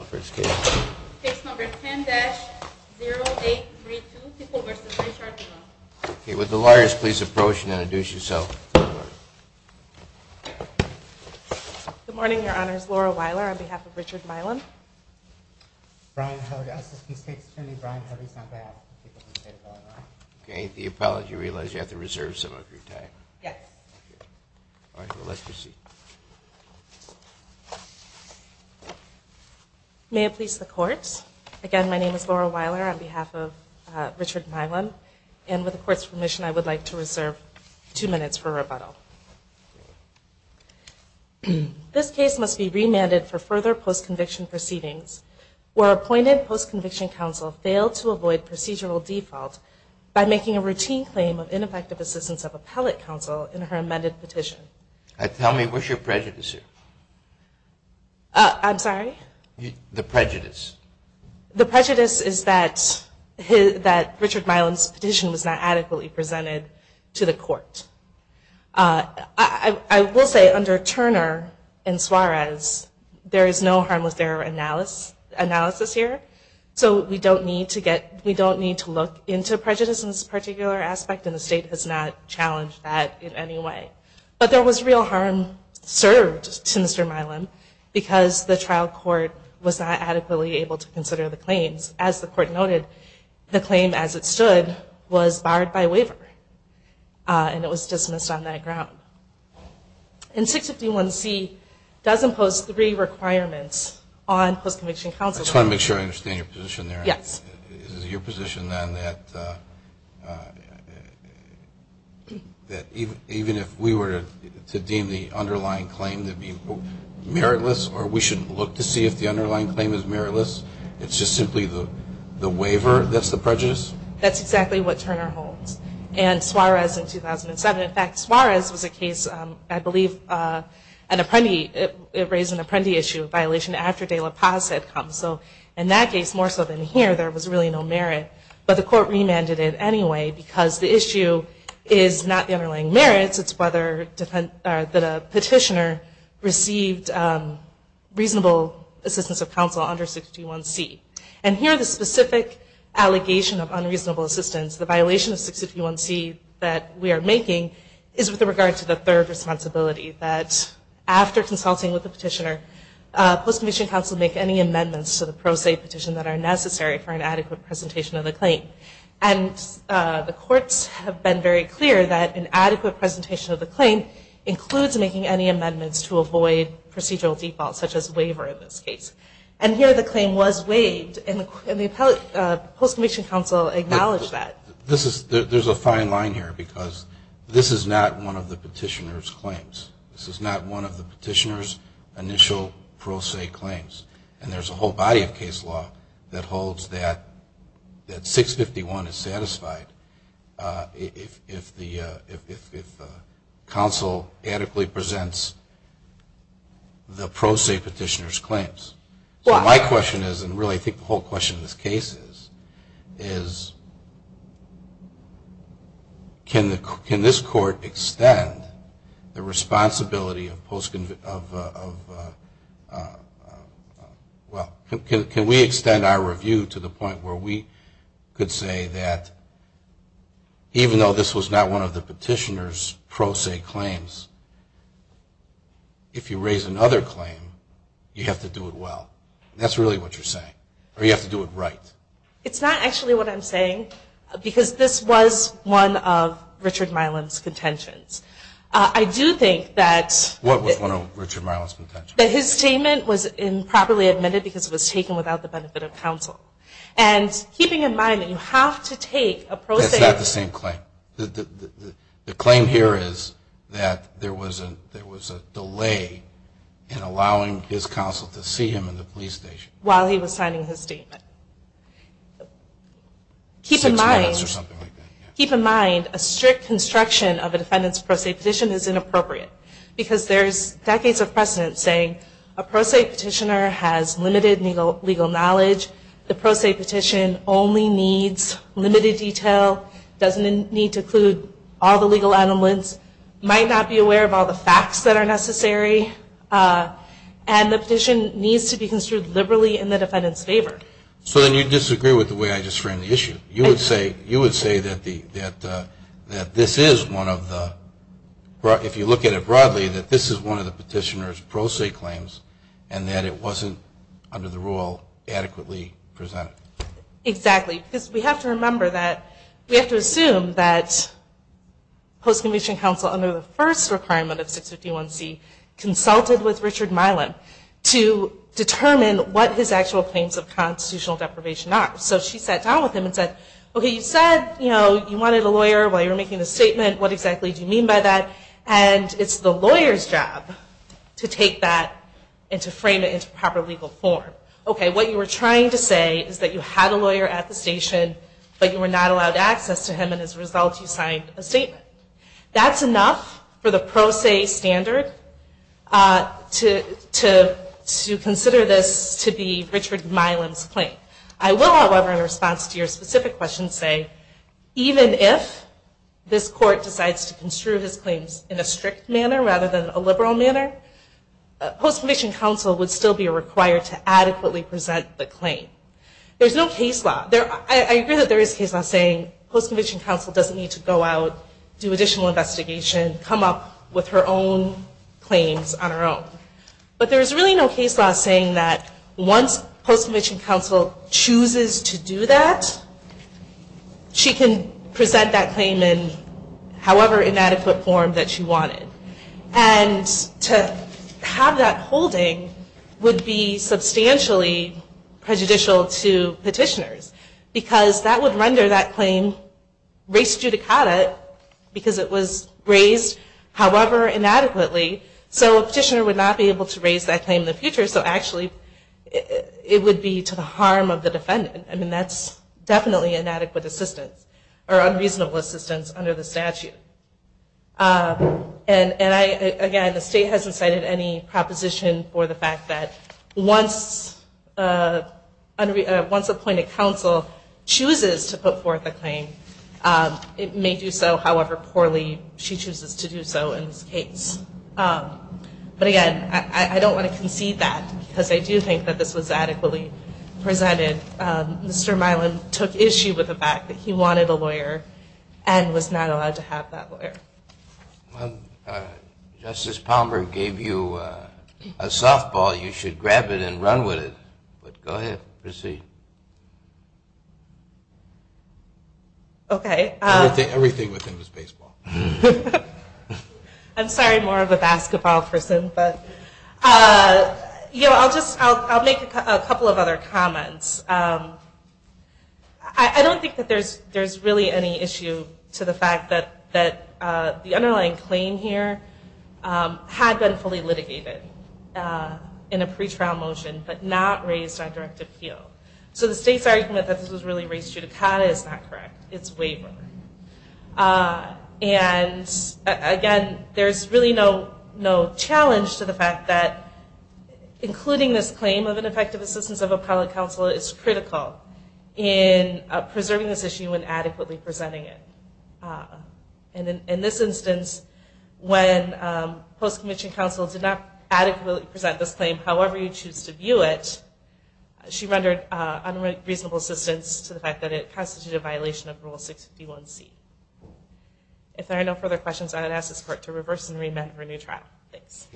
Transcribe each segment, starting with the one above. Case number 10-0832, Tickle v. Richard Milam. Good morning, Your Honors. Laura Weiler on behalf of Richard Milam. Brian Harvey, Assistant State's Attorney. Brian Harvey's not back. Okay, the apology realized you have to reserve some of your time. Yes. All right, well let's proceed. May it please the Court. Again, my name is Laura Weiler on behalf of Richard Milam. And with the Court's permission, I would like to reserve two minutes for rebuttal. This case must be remanded for further post-conviction proceedings where appointed post-conviction counsel failed to avoid procedural default by making a routine claim of ineffective assistance of appellate counsel in her amended petition. Tell me, what's your prejudice here? I'm sorry? The prejudice. The prejudice is that Richard Milam's petition was not adequately presented to the Court. I will say, under Turner and Suarez, there is no harmless error analysis here. So we don't need to look into prejudice in this particular aspect, and the State has not challenged that in any way. But there was real harm served to Mr. Milam because the trial court was not adequately able to consider the claims. As the Court noted, the claim as it stood was barred by waiver. And it was dismissed on that ground. And 651C does impose three requirements on post-conviction counsel. I just want to make sure I understand your position there. Yes. Is it your position, then, that even if we were to deem the underlying claim to be, quote, meritless, or we shouldn't look to see if the underlying claim is meritless, it's just simply the waiver that's the prejudice? That's exactly what Turner holds. And Suarez in 2007, in fact, Suarez was a case, I believe, an apprentice, it raised an apprentice issue, a violation after De La Paz had come. So in that case, more so than here, there was really no merit. But the Court remanded it anyway because the issue is not the underlying merits, it's whether a petitioner received reasonable assistance of counsel under 651C. And here the specific allegation of unreasonable assistance, the violation of 651C that we are making, is with regard to the third responsibility, that after consulting with the petitioner, post-conviction counsel make any amendments to the pro se petition that are necessary for an adequate presentation of the claim. And the courts have been very clear that an adequate presentation of the claim includes making any amendments to avoid procedural defaults, such as waiver in this case. And here the claim was waived, and the post-conviction counsel acknowledged that. There's a fine line here because this is not one of the petitioner's claims. This is not one of the petitioner's initial pro se claims. And there's a whole body of case law that holds that 651 is satisfied if counsel adequately presents the pro se petitioner's claims. So my question is, and really I think the whole question of this case is, can this court extend the responsibility of post-conviction, well, can we extend our review to the point where we could say that, even though this was not one of the petitioner's pro se claims, if you raise another claim, you have to do it well. That's really what you're saying. Or you have to do it right. It's not actually what I'm saying, because this was one of Richard Miland's contentions. I do think that... What was one of Richard Miland's contentions? That his statement was improperly admitted because it was taken without the benefit of counsel. And keeping in mind that you have to take a pro se... It's not the same claim. The claim here is that there was a delay in allowing his counsel to see him in the police station. While he was signing his statement. Keep in mind... Six minutes or something like that. Keep in mind, a strict construction of a defendant's pro se petition is inappropriate, because there's decades of precedent saying a pro se petitioner has limited legal knowledge, the pro se petition only needs limited detail, doesn't need to include all the legal elements, might not be aware of all the facts that are necessary, and the petition needs to be considered liberally in the defendant's favor. So then you disagree with the way I just framed the issue. You would say that this is one of the... If you look at it broadly, that this is one of the petitioner's pro se claims, and that it wasn't, under the rule, adequately presented. Exactly. Because we have to remember that... We have to assume that post-conviction counsel, under the first requirement of 651C, consulted with Richard Milan to determine what his actual claims of constitutional deprivation are. So she sat down with him and said, okay, you said you wanted a lawyer while you were making the statement, what exactly do you mean by that? And it's the lawyer's job to take that and to frame it into proper legal form. Okay, what you were trying to say is that you had a lawyer at the station, but you were not allowed access to him, and as a result you signed a statement. That's enough for the pro se standard to consider this to be Richard Milan's claim. I will, however, in response to your specific question, say, even if this court decides to construe his claims in a strict manner rather than a liberal manner, post-conviction counsel would still be required to adequately present the claim. There's no case law. I agree that there is case law saying post-conviction counsel doesn't need to go out, do additional investigation, come up with her own claims on her own. But there's really no case law saying that once post-conviction counsel chooses to do that, she can present that claim in however inadequate form that she wanted. And to have that holding would be substantially prejudicial to petitioners because that would render that claim res judicata because it was raised however inadequately. So a petitioner would not be able to raise that claim in the future, so actually it would be to the harm of the defendant. I mean, that's definitely inadequate assistance or unreasonable assistance under the statute. And, again, the state hasn't cited any proposition for the fact that once appointed counsel chooses to put forth a claim, it may do so however poorly she chooses to do so in this case. But, again, I don't want to concede that because I do think that this was adequately presented. Mr. Milan took issue with the fact that he wanted a lawyer and was not allowed to have that lawyer. Justice Palmer gave you a softball. You should grab it and run with it. Go ahead. Proceed. Okay. Everything within was baseball. I'm sorry, more of a basketball person. But, you know, I'll just make a couple of other comments. I don't think that there's really any issue to the fact that the underlying claim here had been fully litigated in a pretrial motion but not raised on direct appeal. So the state's argument that this was really res judicata is not correct. It's waiver. And, again, there's really no challenge to the fact that including this claim of ineffective assistance of appellate counsel is critical in preserving this issue and adequately presenting it. In this instance, when post-commissioned counsel did not adequately present this claim however you choose to view it, she rendered unreasonable assistance to the fact that it constituted a violation of Rule 651C. If there are no further questions, I would ask this court to reverse and remand for a new trial. Thanks.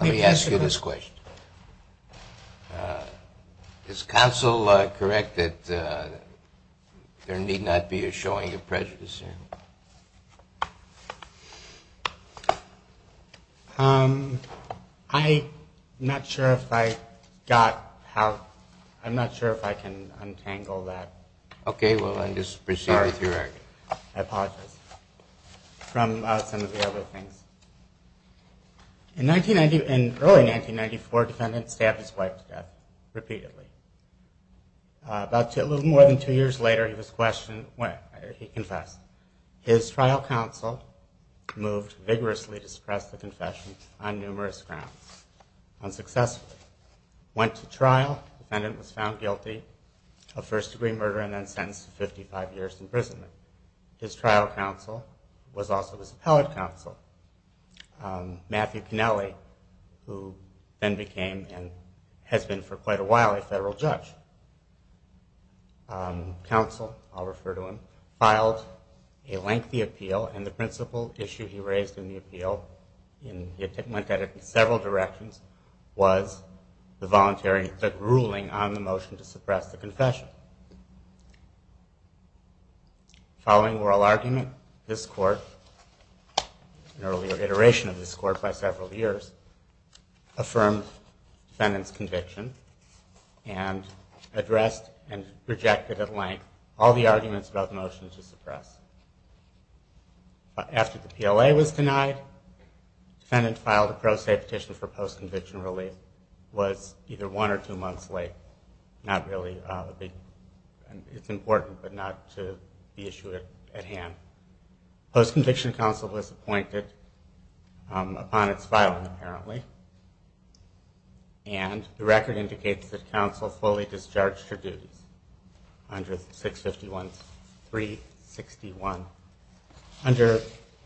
Let me ask you this question. Is counsel correct that there need not be a showing of prejudice here? I'm not sure if I got how, I'm not sure if I can untangle that. Okay, well, then just proceed with your argument. I apologize. From some of the other things. In early 1994, a defendant stabbed his wife to death repeatedly. About a little more than two years later, he confessed. His trial counsel moved vigorously to suppress the confession on numerous grounds. Unsuccessfully. Went to trial. The defendant was found guilty of first-degree murder and then sentenced to 55 years imprisonment. His trial counsel was also his appellate counsel. Matthew Kennelly, who then became, and has been for quite a while, a federal judge. Counsel, I'll refer to him, filed a lengthy appeal, and the principal issue he raised in the appeal, went at it in several directions, was the voluntary ruling on the motion to suppress the confession. Following oral argument, this court, an earlier iteration of this court by several years, affirmed the defendant's conviction and addressed and rejected at length all the arguments about the motion to suppress. After the PLA was denied, the defendant filed a pro se petition for post-conviction relief. It was either one or two months late. Not really a big, it's important, but not to be issued at hand. Post-conviction counsel was appointed upon its filing, apparently. And the record indicates that counsel fully discharged her dues under 651-361, under,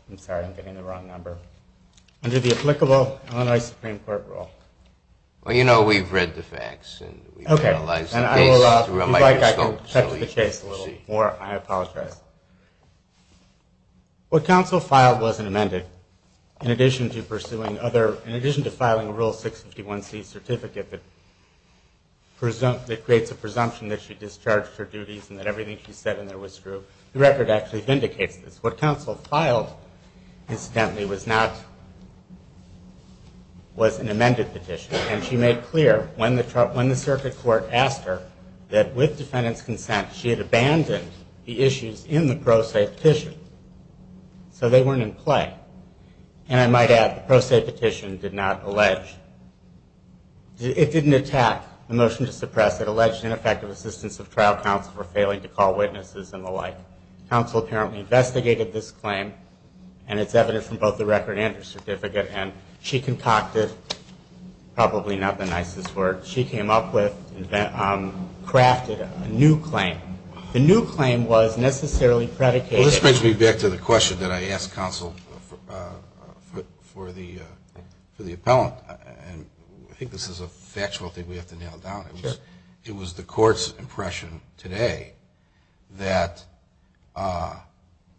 I'm sorry, I'm getting the wrong number, under the applicable Illinois Supreme Court rule. Well, you know, we've read the facts and we've analyzed the case through a microscope. Okay, and I will, if you'd like, I can touch the case a little more. I apologize. What counsel filed wasn't amended. In addition to pursuing other, in addition to filing a Rule 651C certificate that creates a presumption that she discharged her duties and that everything she said in there was true, the record actually vindicates this. What counsel filed, incidentally, was not, was an amended petition. And she made clear when the circuit court asked her that with defendant's consent, she had abandoned the issues in the pro se petition. So they weren't in play. And I might add, the pro se petition did not allege, it didn't attack the motion to suppress it, alleged ineffective assistance of trial counsel for failing to call witnesses and the like. Counsel apparently investigated this claim, and it's evident from both the record and her certificate, and she concocted, probably not the nicest word, she came up with, crafted a new claim. The new claim was necessarily predicated. Well, this brings me back to the question that I asked counsel for the appellant. And I think this is a factual thing we have to nail down. Sure. It was the court's impression today that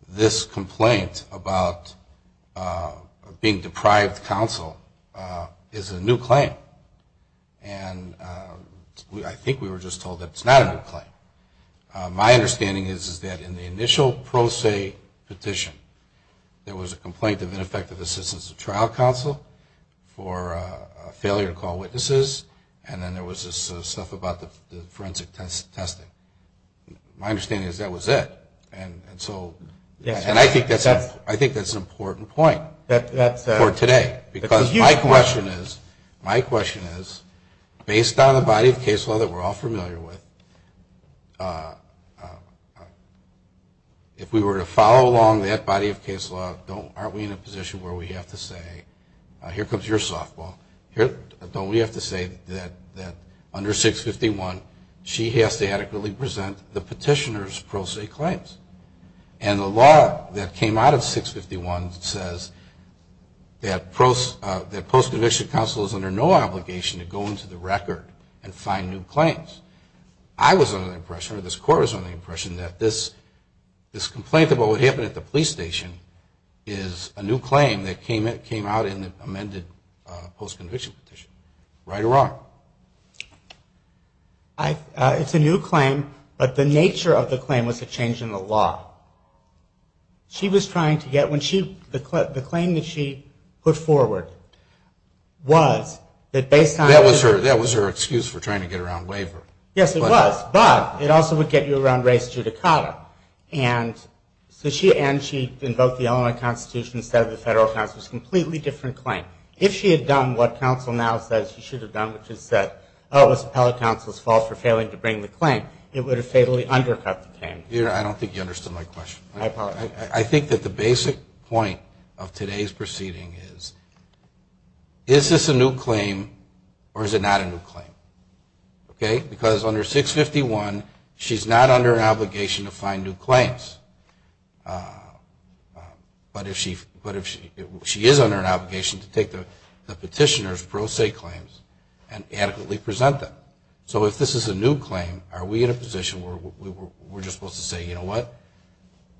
this complaint about being deprived of counsel is a new claim. And I think we were just told that it's not a new claim. My understanding is that in the initial pro se petition, there was a complaint of ineffective assistance of trial counsel for failure to call witnesses, and then there was this stuff about the forensic testing. My understanding is that was it. And I think that's an important point for today. Because my question is, based on the body of case law that we're all familiar with, if we were to follow along that body of case law, aren't we in a position where we have to say, here comes your softball, don't we have to say that under 651, she has to adequately present the petitioner's pro se claims. And the law that came out of 651 says that post-conviction counsel is under no obligation to go into the record and find new claims. I was under the impression, or this court was under the impression, that this complaint about what happened at the police station is a new claim that came out in the amended post-conviction petition. Right or wrong? It's a new claim, but the nature of the claim was a change in the law. She was trying to get, when she, the claim that she put forward was that based on. That was her excuse for trying to get around waiver. Yes, it was, but it also would get you around race judicata. And so she invoked the element of constitution instead of the federal counsel. It's a completely different claim. If she had done what counsel now says she should have done, which is that, oh, this appellate counsel is false for failing to bring the claim, it would have fatally undercut the claim. I don't think you understood my question. I think that the basic point of today's proceeding is, is this a new claim or is it not a new claim? Okay, because under 651, she's not under an obligation to find new claims. But if she is under an obligation to take the petitioner's pro se claims and adequately present them. So if this is a new claim, are we in a position where we're just supposed to say, you know what?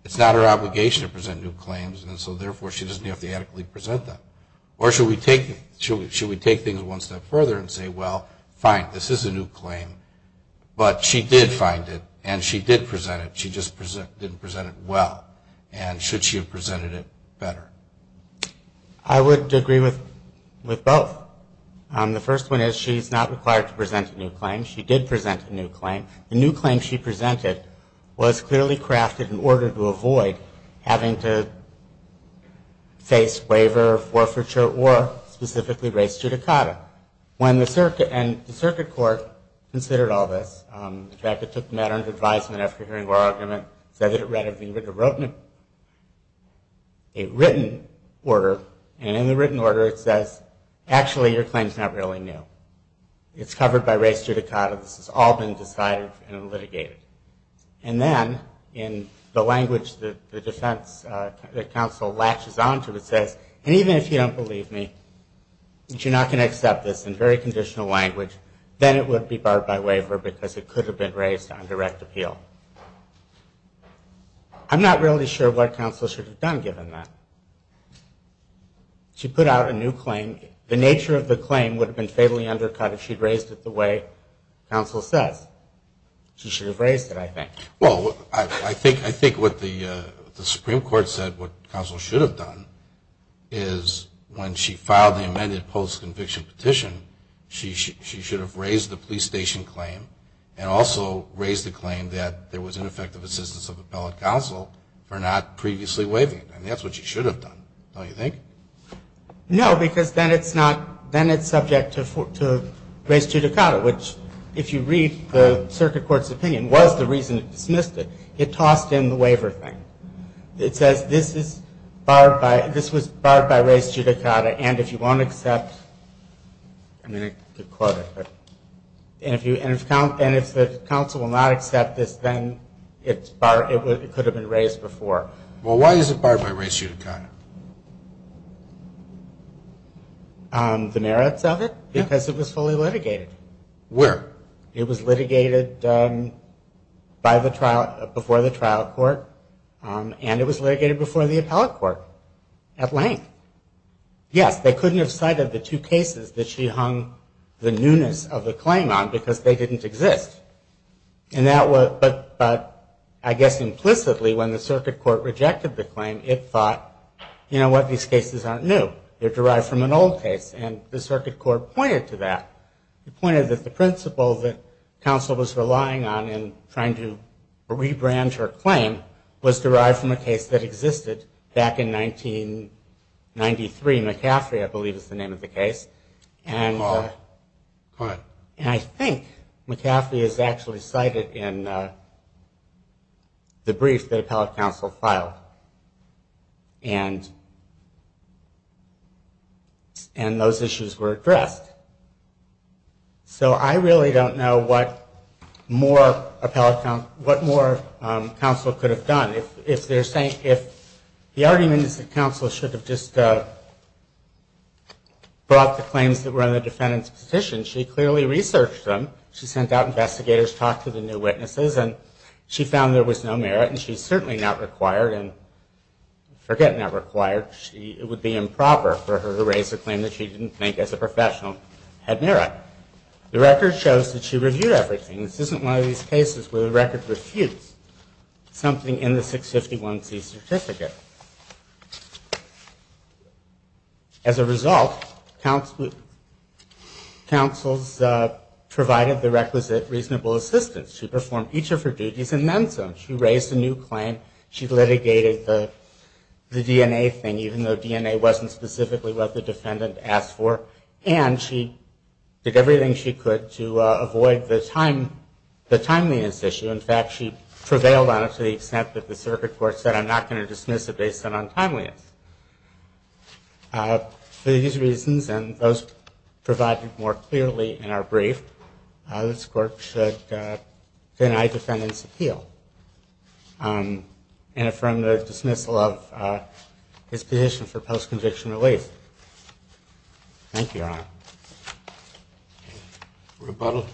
It's not her obligation to present new claims, and so therefore she doesn't have to adequately present them. Or should we take things one step further and say, well, fine, this is a new claim, but she did find it and she did present it, she just didn't present it well. And should she have presented it better? I would agree with both. The first one is she's not required to present a new claim. She did present a new claim. The new claim she presented was clearly crafted in order to avoid having to face waiver, forfeiture, or specifically race judicata. And the circuit court considered all this. In fact, it took the matter into advisement after hearing our argument. It said that it read a written order, and in the written order it says, actually your claim is not really new. It's covered by race judicata, this has all been decided and litigated. And then, in the language that the defense, the counsel latches onto, it says, and even if you don't believe me, that you're not going to accept this in very conditional language, then it would be barred by waiver because it could have been raised on direct appeal. I'm not really sure what counsel should have done given that. She put out a new claim. The nature of the claim would have been fatally undercut if she'd raised it the way counsel says. She should have raised it, I think. Well, I think what the Supreme Court said what counsel should have done is when she filed the amended post-conviction petition, she should have raised the police station claim and also raised the claim that there was ineffective assistance of appellate counsel for not previously waiving it. And that's what she should have done, don't you think? No, because then it's subject to race judicata, which if you read the circuit court's opinion, was the reason it dismissed it. It tossed in the waiver thing. It says this was barred by race judicata, and if you won't accept, I'm going to quote it. And if the counsel will not accept this, then it could have been raised before. Well, why is it barred by race judicata? The merits of it? Because it was fully litigated. Where? It was litigated before the trial court, and it was litigated before the appellate court at length. Yes, they couldn't have cited the two cases that she hung the newness of the claim on because they didn't exist. But I guess implicitly when the circuit court rejected the claim, it thought, you know what, these cases aren't new. They're derived from an old case, and the circuit court pointed to that. It pointed that the principle that counsel was relying on in trying to rebrand her claim was derived from a case that existed back in 1993. McCaffrey, I believe, is the name of the case. And I think McCaffrey is actually cited in the brief that appellate counsel filed. And those issues were addressed. So I really don't know what more counsel could have done. If the argument is that counsel should have just brought the claims that were in the defendant's petition, she clearly researched them. She sent out investigators, talked to the new witnesses, and she found there was no merit. And she's certainly not required, and forget not required. It would be improper for her to raise a claim that she didn't think as a professional had merit. The record shows that she reviewed everything. This isn't one of these cases where the record refutes something in the 651C certificate. As a result, counsel's provided the requisite reasonable assistance. She performed each of her duties and then some. She raised a new claim. She litigated the DNA thing, even though DNA wasn't specifically what the defendant asked for. And she did everything she could to avoid the timeliness issue. In fact, she prevailed on it to the extent that the circuit court said, I'm not going to dismiss it based on timeliness. For these reasons and those provided more clearly in our brief, this court should deny defendant's appeal and affirm the dismissal of his petition for post-conviction release. Thank you, Your Honor. Rebuttal.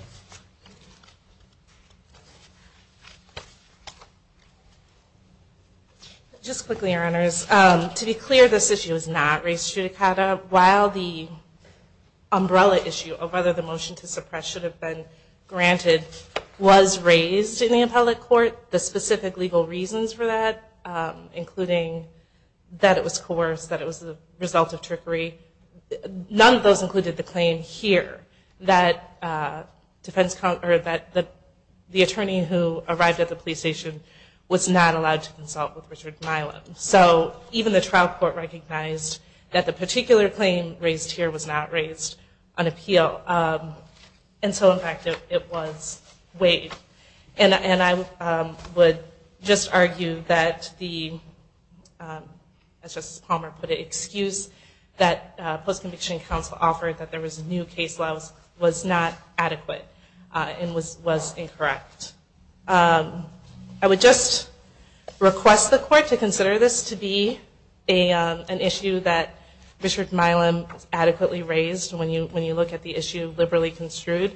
Just quickly, Your Honors. To be clear, this issue is not race judicata. While the umbrella issue of whether the motion to suppress should have been granted was raised in the appellate court, the specific legal reasons for that, including that it was coerced, that it was the result of trickery, none of those included the claim here that the attorney who arrived at the police station was not allowed to consult with Richard Milam. So even the trial court recognized that the particular claim raised here was not raised on appeal. And so in fact, it was waived. And I would just argue that the, as Justice Palmer put it, the excuse that post-conviction counsel offered that there was new case laws was not adequate and was incorrect. I would just request the court to consider this to be an issue that Richard Milam adequately raised when you look at the issue liberally construed.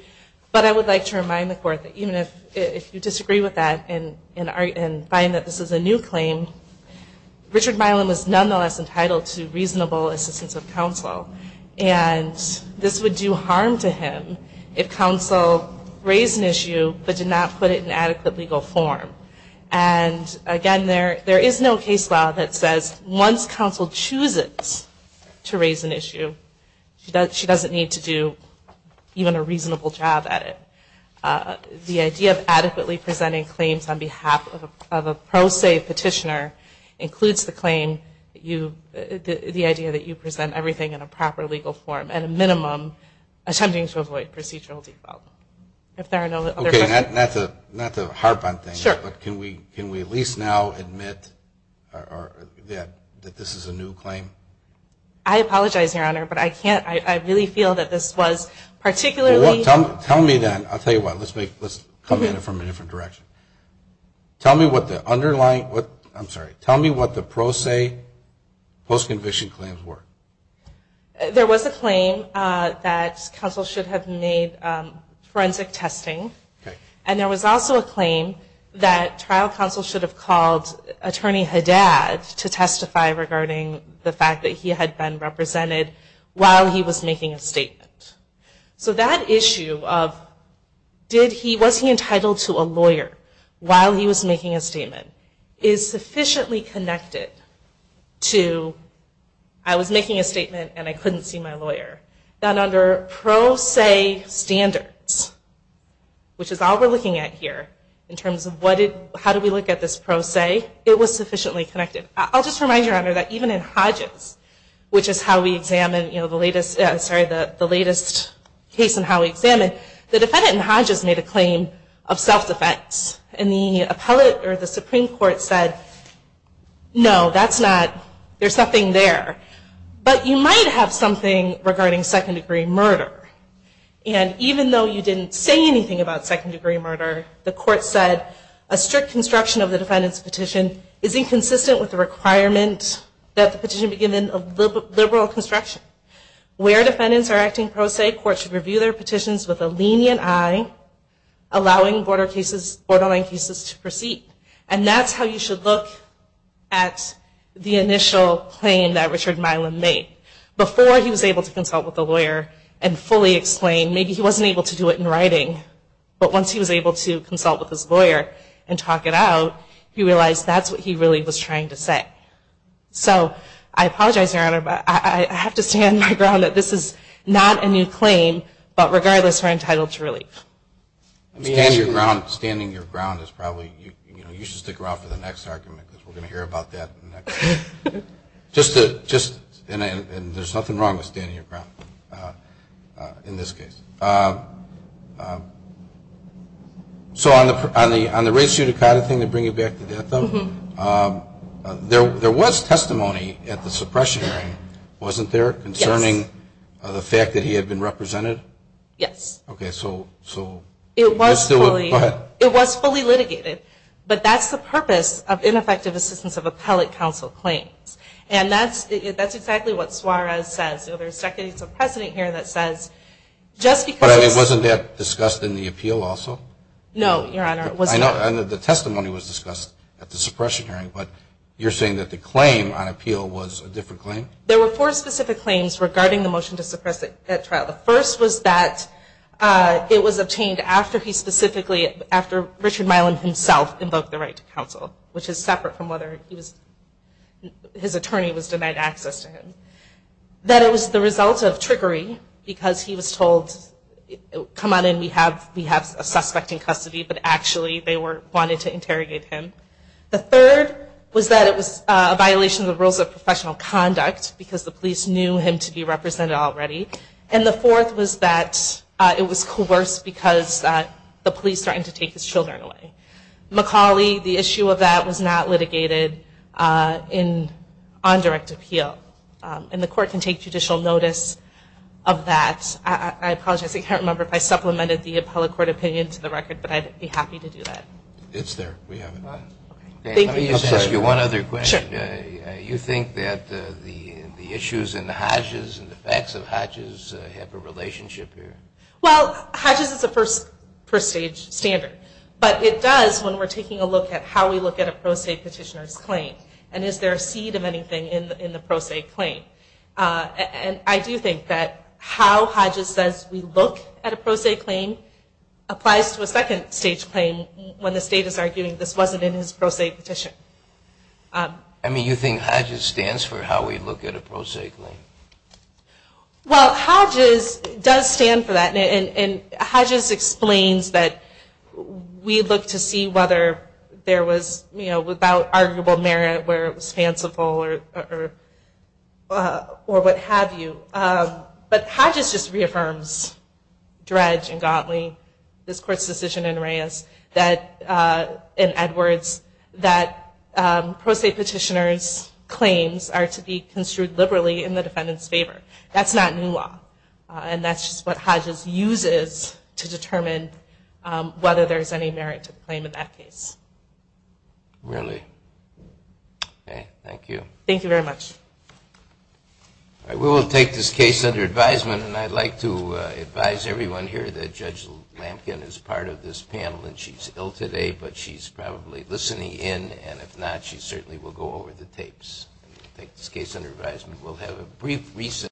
But I would like to remind the court that even if you disagree with that and find that this is a new claim, Richard Milam is nonetheless entitled to reasonable assistance of counsel. And this would do harm to him if counsel raised an issue but did not put it in adequate legal form. And again, there is no case law that says once counsel chooses to raise an issue, she doesn't need to do even a reasonable job at it. The idea of adequately presenting claims on behalf of a pro se petitioner includes the claim, the idea that you present everything in a proper legal form at a minimum, attempting to avoid procedural default. Not to harp on things, but can we at least now admit that this is a new claim? I apologize, Your Honor, but I really feel that this was particularly – Tell me what the underlying, I'm sorry, tell me what the pro se post-conviction claims were. There was a claim that counsel should have made forensic testing. And there was also a claim that trial counsel should have called Attorney Haddad to testify regarding the fact that he had been represented while he was making a statement. So that issue of was he entitled to a lawyer while he was making a statement is sufficiently connected to I was making a statement and I couldn't see my lawyer. That under pro se standards, which is all we're looking at here in terms of how do we look at this pro se, it was sufficiently connected. I'll just remind you, Your Honor, that even in Hodges, which is how we examine, the latest case and how we examine, the defendant in Hodges made a claim of self-defense. And the Supreme Court said, no, that's not, there's nothing there. But you might have something regarding second degree murder. And even though you didn't say anything about second degree murder, the court said, a strict construction of the defendant's petition is inconsistent with the requirement that the petition be given a liberal construction. Where defendants are acting pro se, court should review their petitions with a lenient eye, allowing borderline cases to proceed. And that's how you should look at the initial claim that Richard Milam made. Before he was able to consult with a lawyer and fully explain, maybe he wasn't able to do it in writing, but once he was able to consult with his lawyer and talk it out, he realized that's what he really was trying to say. So I apologize, Your Honor, but I have to stand my ground that this is not a new claim, but regardless, we're entitled to relief. Standing your ground is probably, you know, you should stick around for the next argument because we're going to hear about that. And there's nothing wrong with standing your ground in this case. So on the race-judicata thing, to bring you back to that, though, there was testimony at the suppression hearing, wasn't there, concerning the fact that he had been represented? Yes. Okay, so it was fully litigated, but that's the purpose of ineffective assistance of appellate counsel claims. And that's exactly what Suarez says. There's decades of precedent here that says just because it's... The first was that it was obtained after he specifically, after Richard Milam himself invoked the right to counsel, which is separate from whether his attorney was denied access to him. That it was the result of trickery because he was told, come on in, we have a suspect in custody, but actually they wanted to interrogate him. The third was that it was a violation of the rules of professional conduct because the police knew him to be represented already. And the fourth was that it was coerced because the police threatened to take his children away. McCauley, the issue of that was not litigated on direct appeal. And the court can take judicial notice of that. I apologize, I can't remember if I supplemented the appellate court opinion to the record, but I'd be happy to do that. Let me just ask you one other question. You think that the issues in the Hodges and the facts of Hodges have a relationship here? Well, Hodges is a first stage standard, but it does when we're taking a look at how we look at a pro se petitioner's claim and is there a seed of anything in the pro se claim. And I do think that how Hodges says we look at a pro se claim applies to a second stage claim when the state is arguing this wasn't in his pro se petition. I mean, you think Hodges stands for how we look at a pro se claim? Well, Hodges does stand for that. And Hodges explains that we look to see whether there was without arguable merit where it was fanciful or what have you. But Hodges just reaffirms dredge and godly this court's decision in Reyes and Edwards that pro se petitioners claims are to be construed liberally in the defendant's favor. That's not new law. And that's just what Hodges uses to determine whether there's any merit to the claim in that case. Really? Okay, thank you. Thank you very much. We will take this case under advisement and I'd like to advise everyone here that Judge Lampkin is part of this panel and she's ill today but she's probably listening in and if not she certainly will go over the tapes.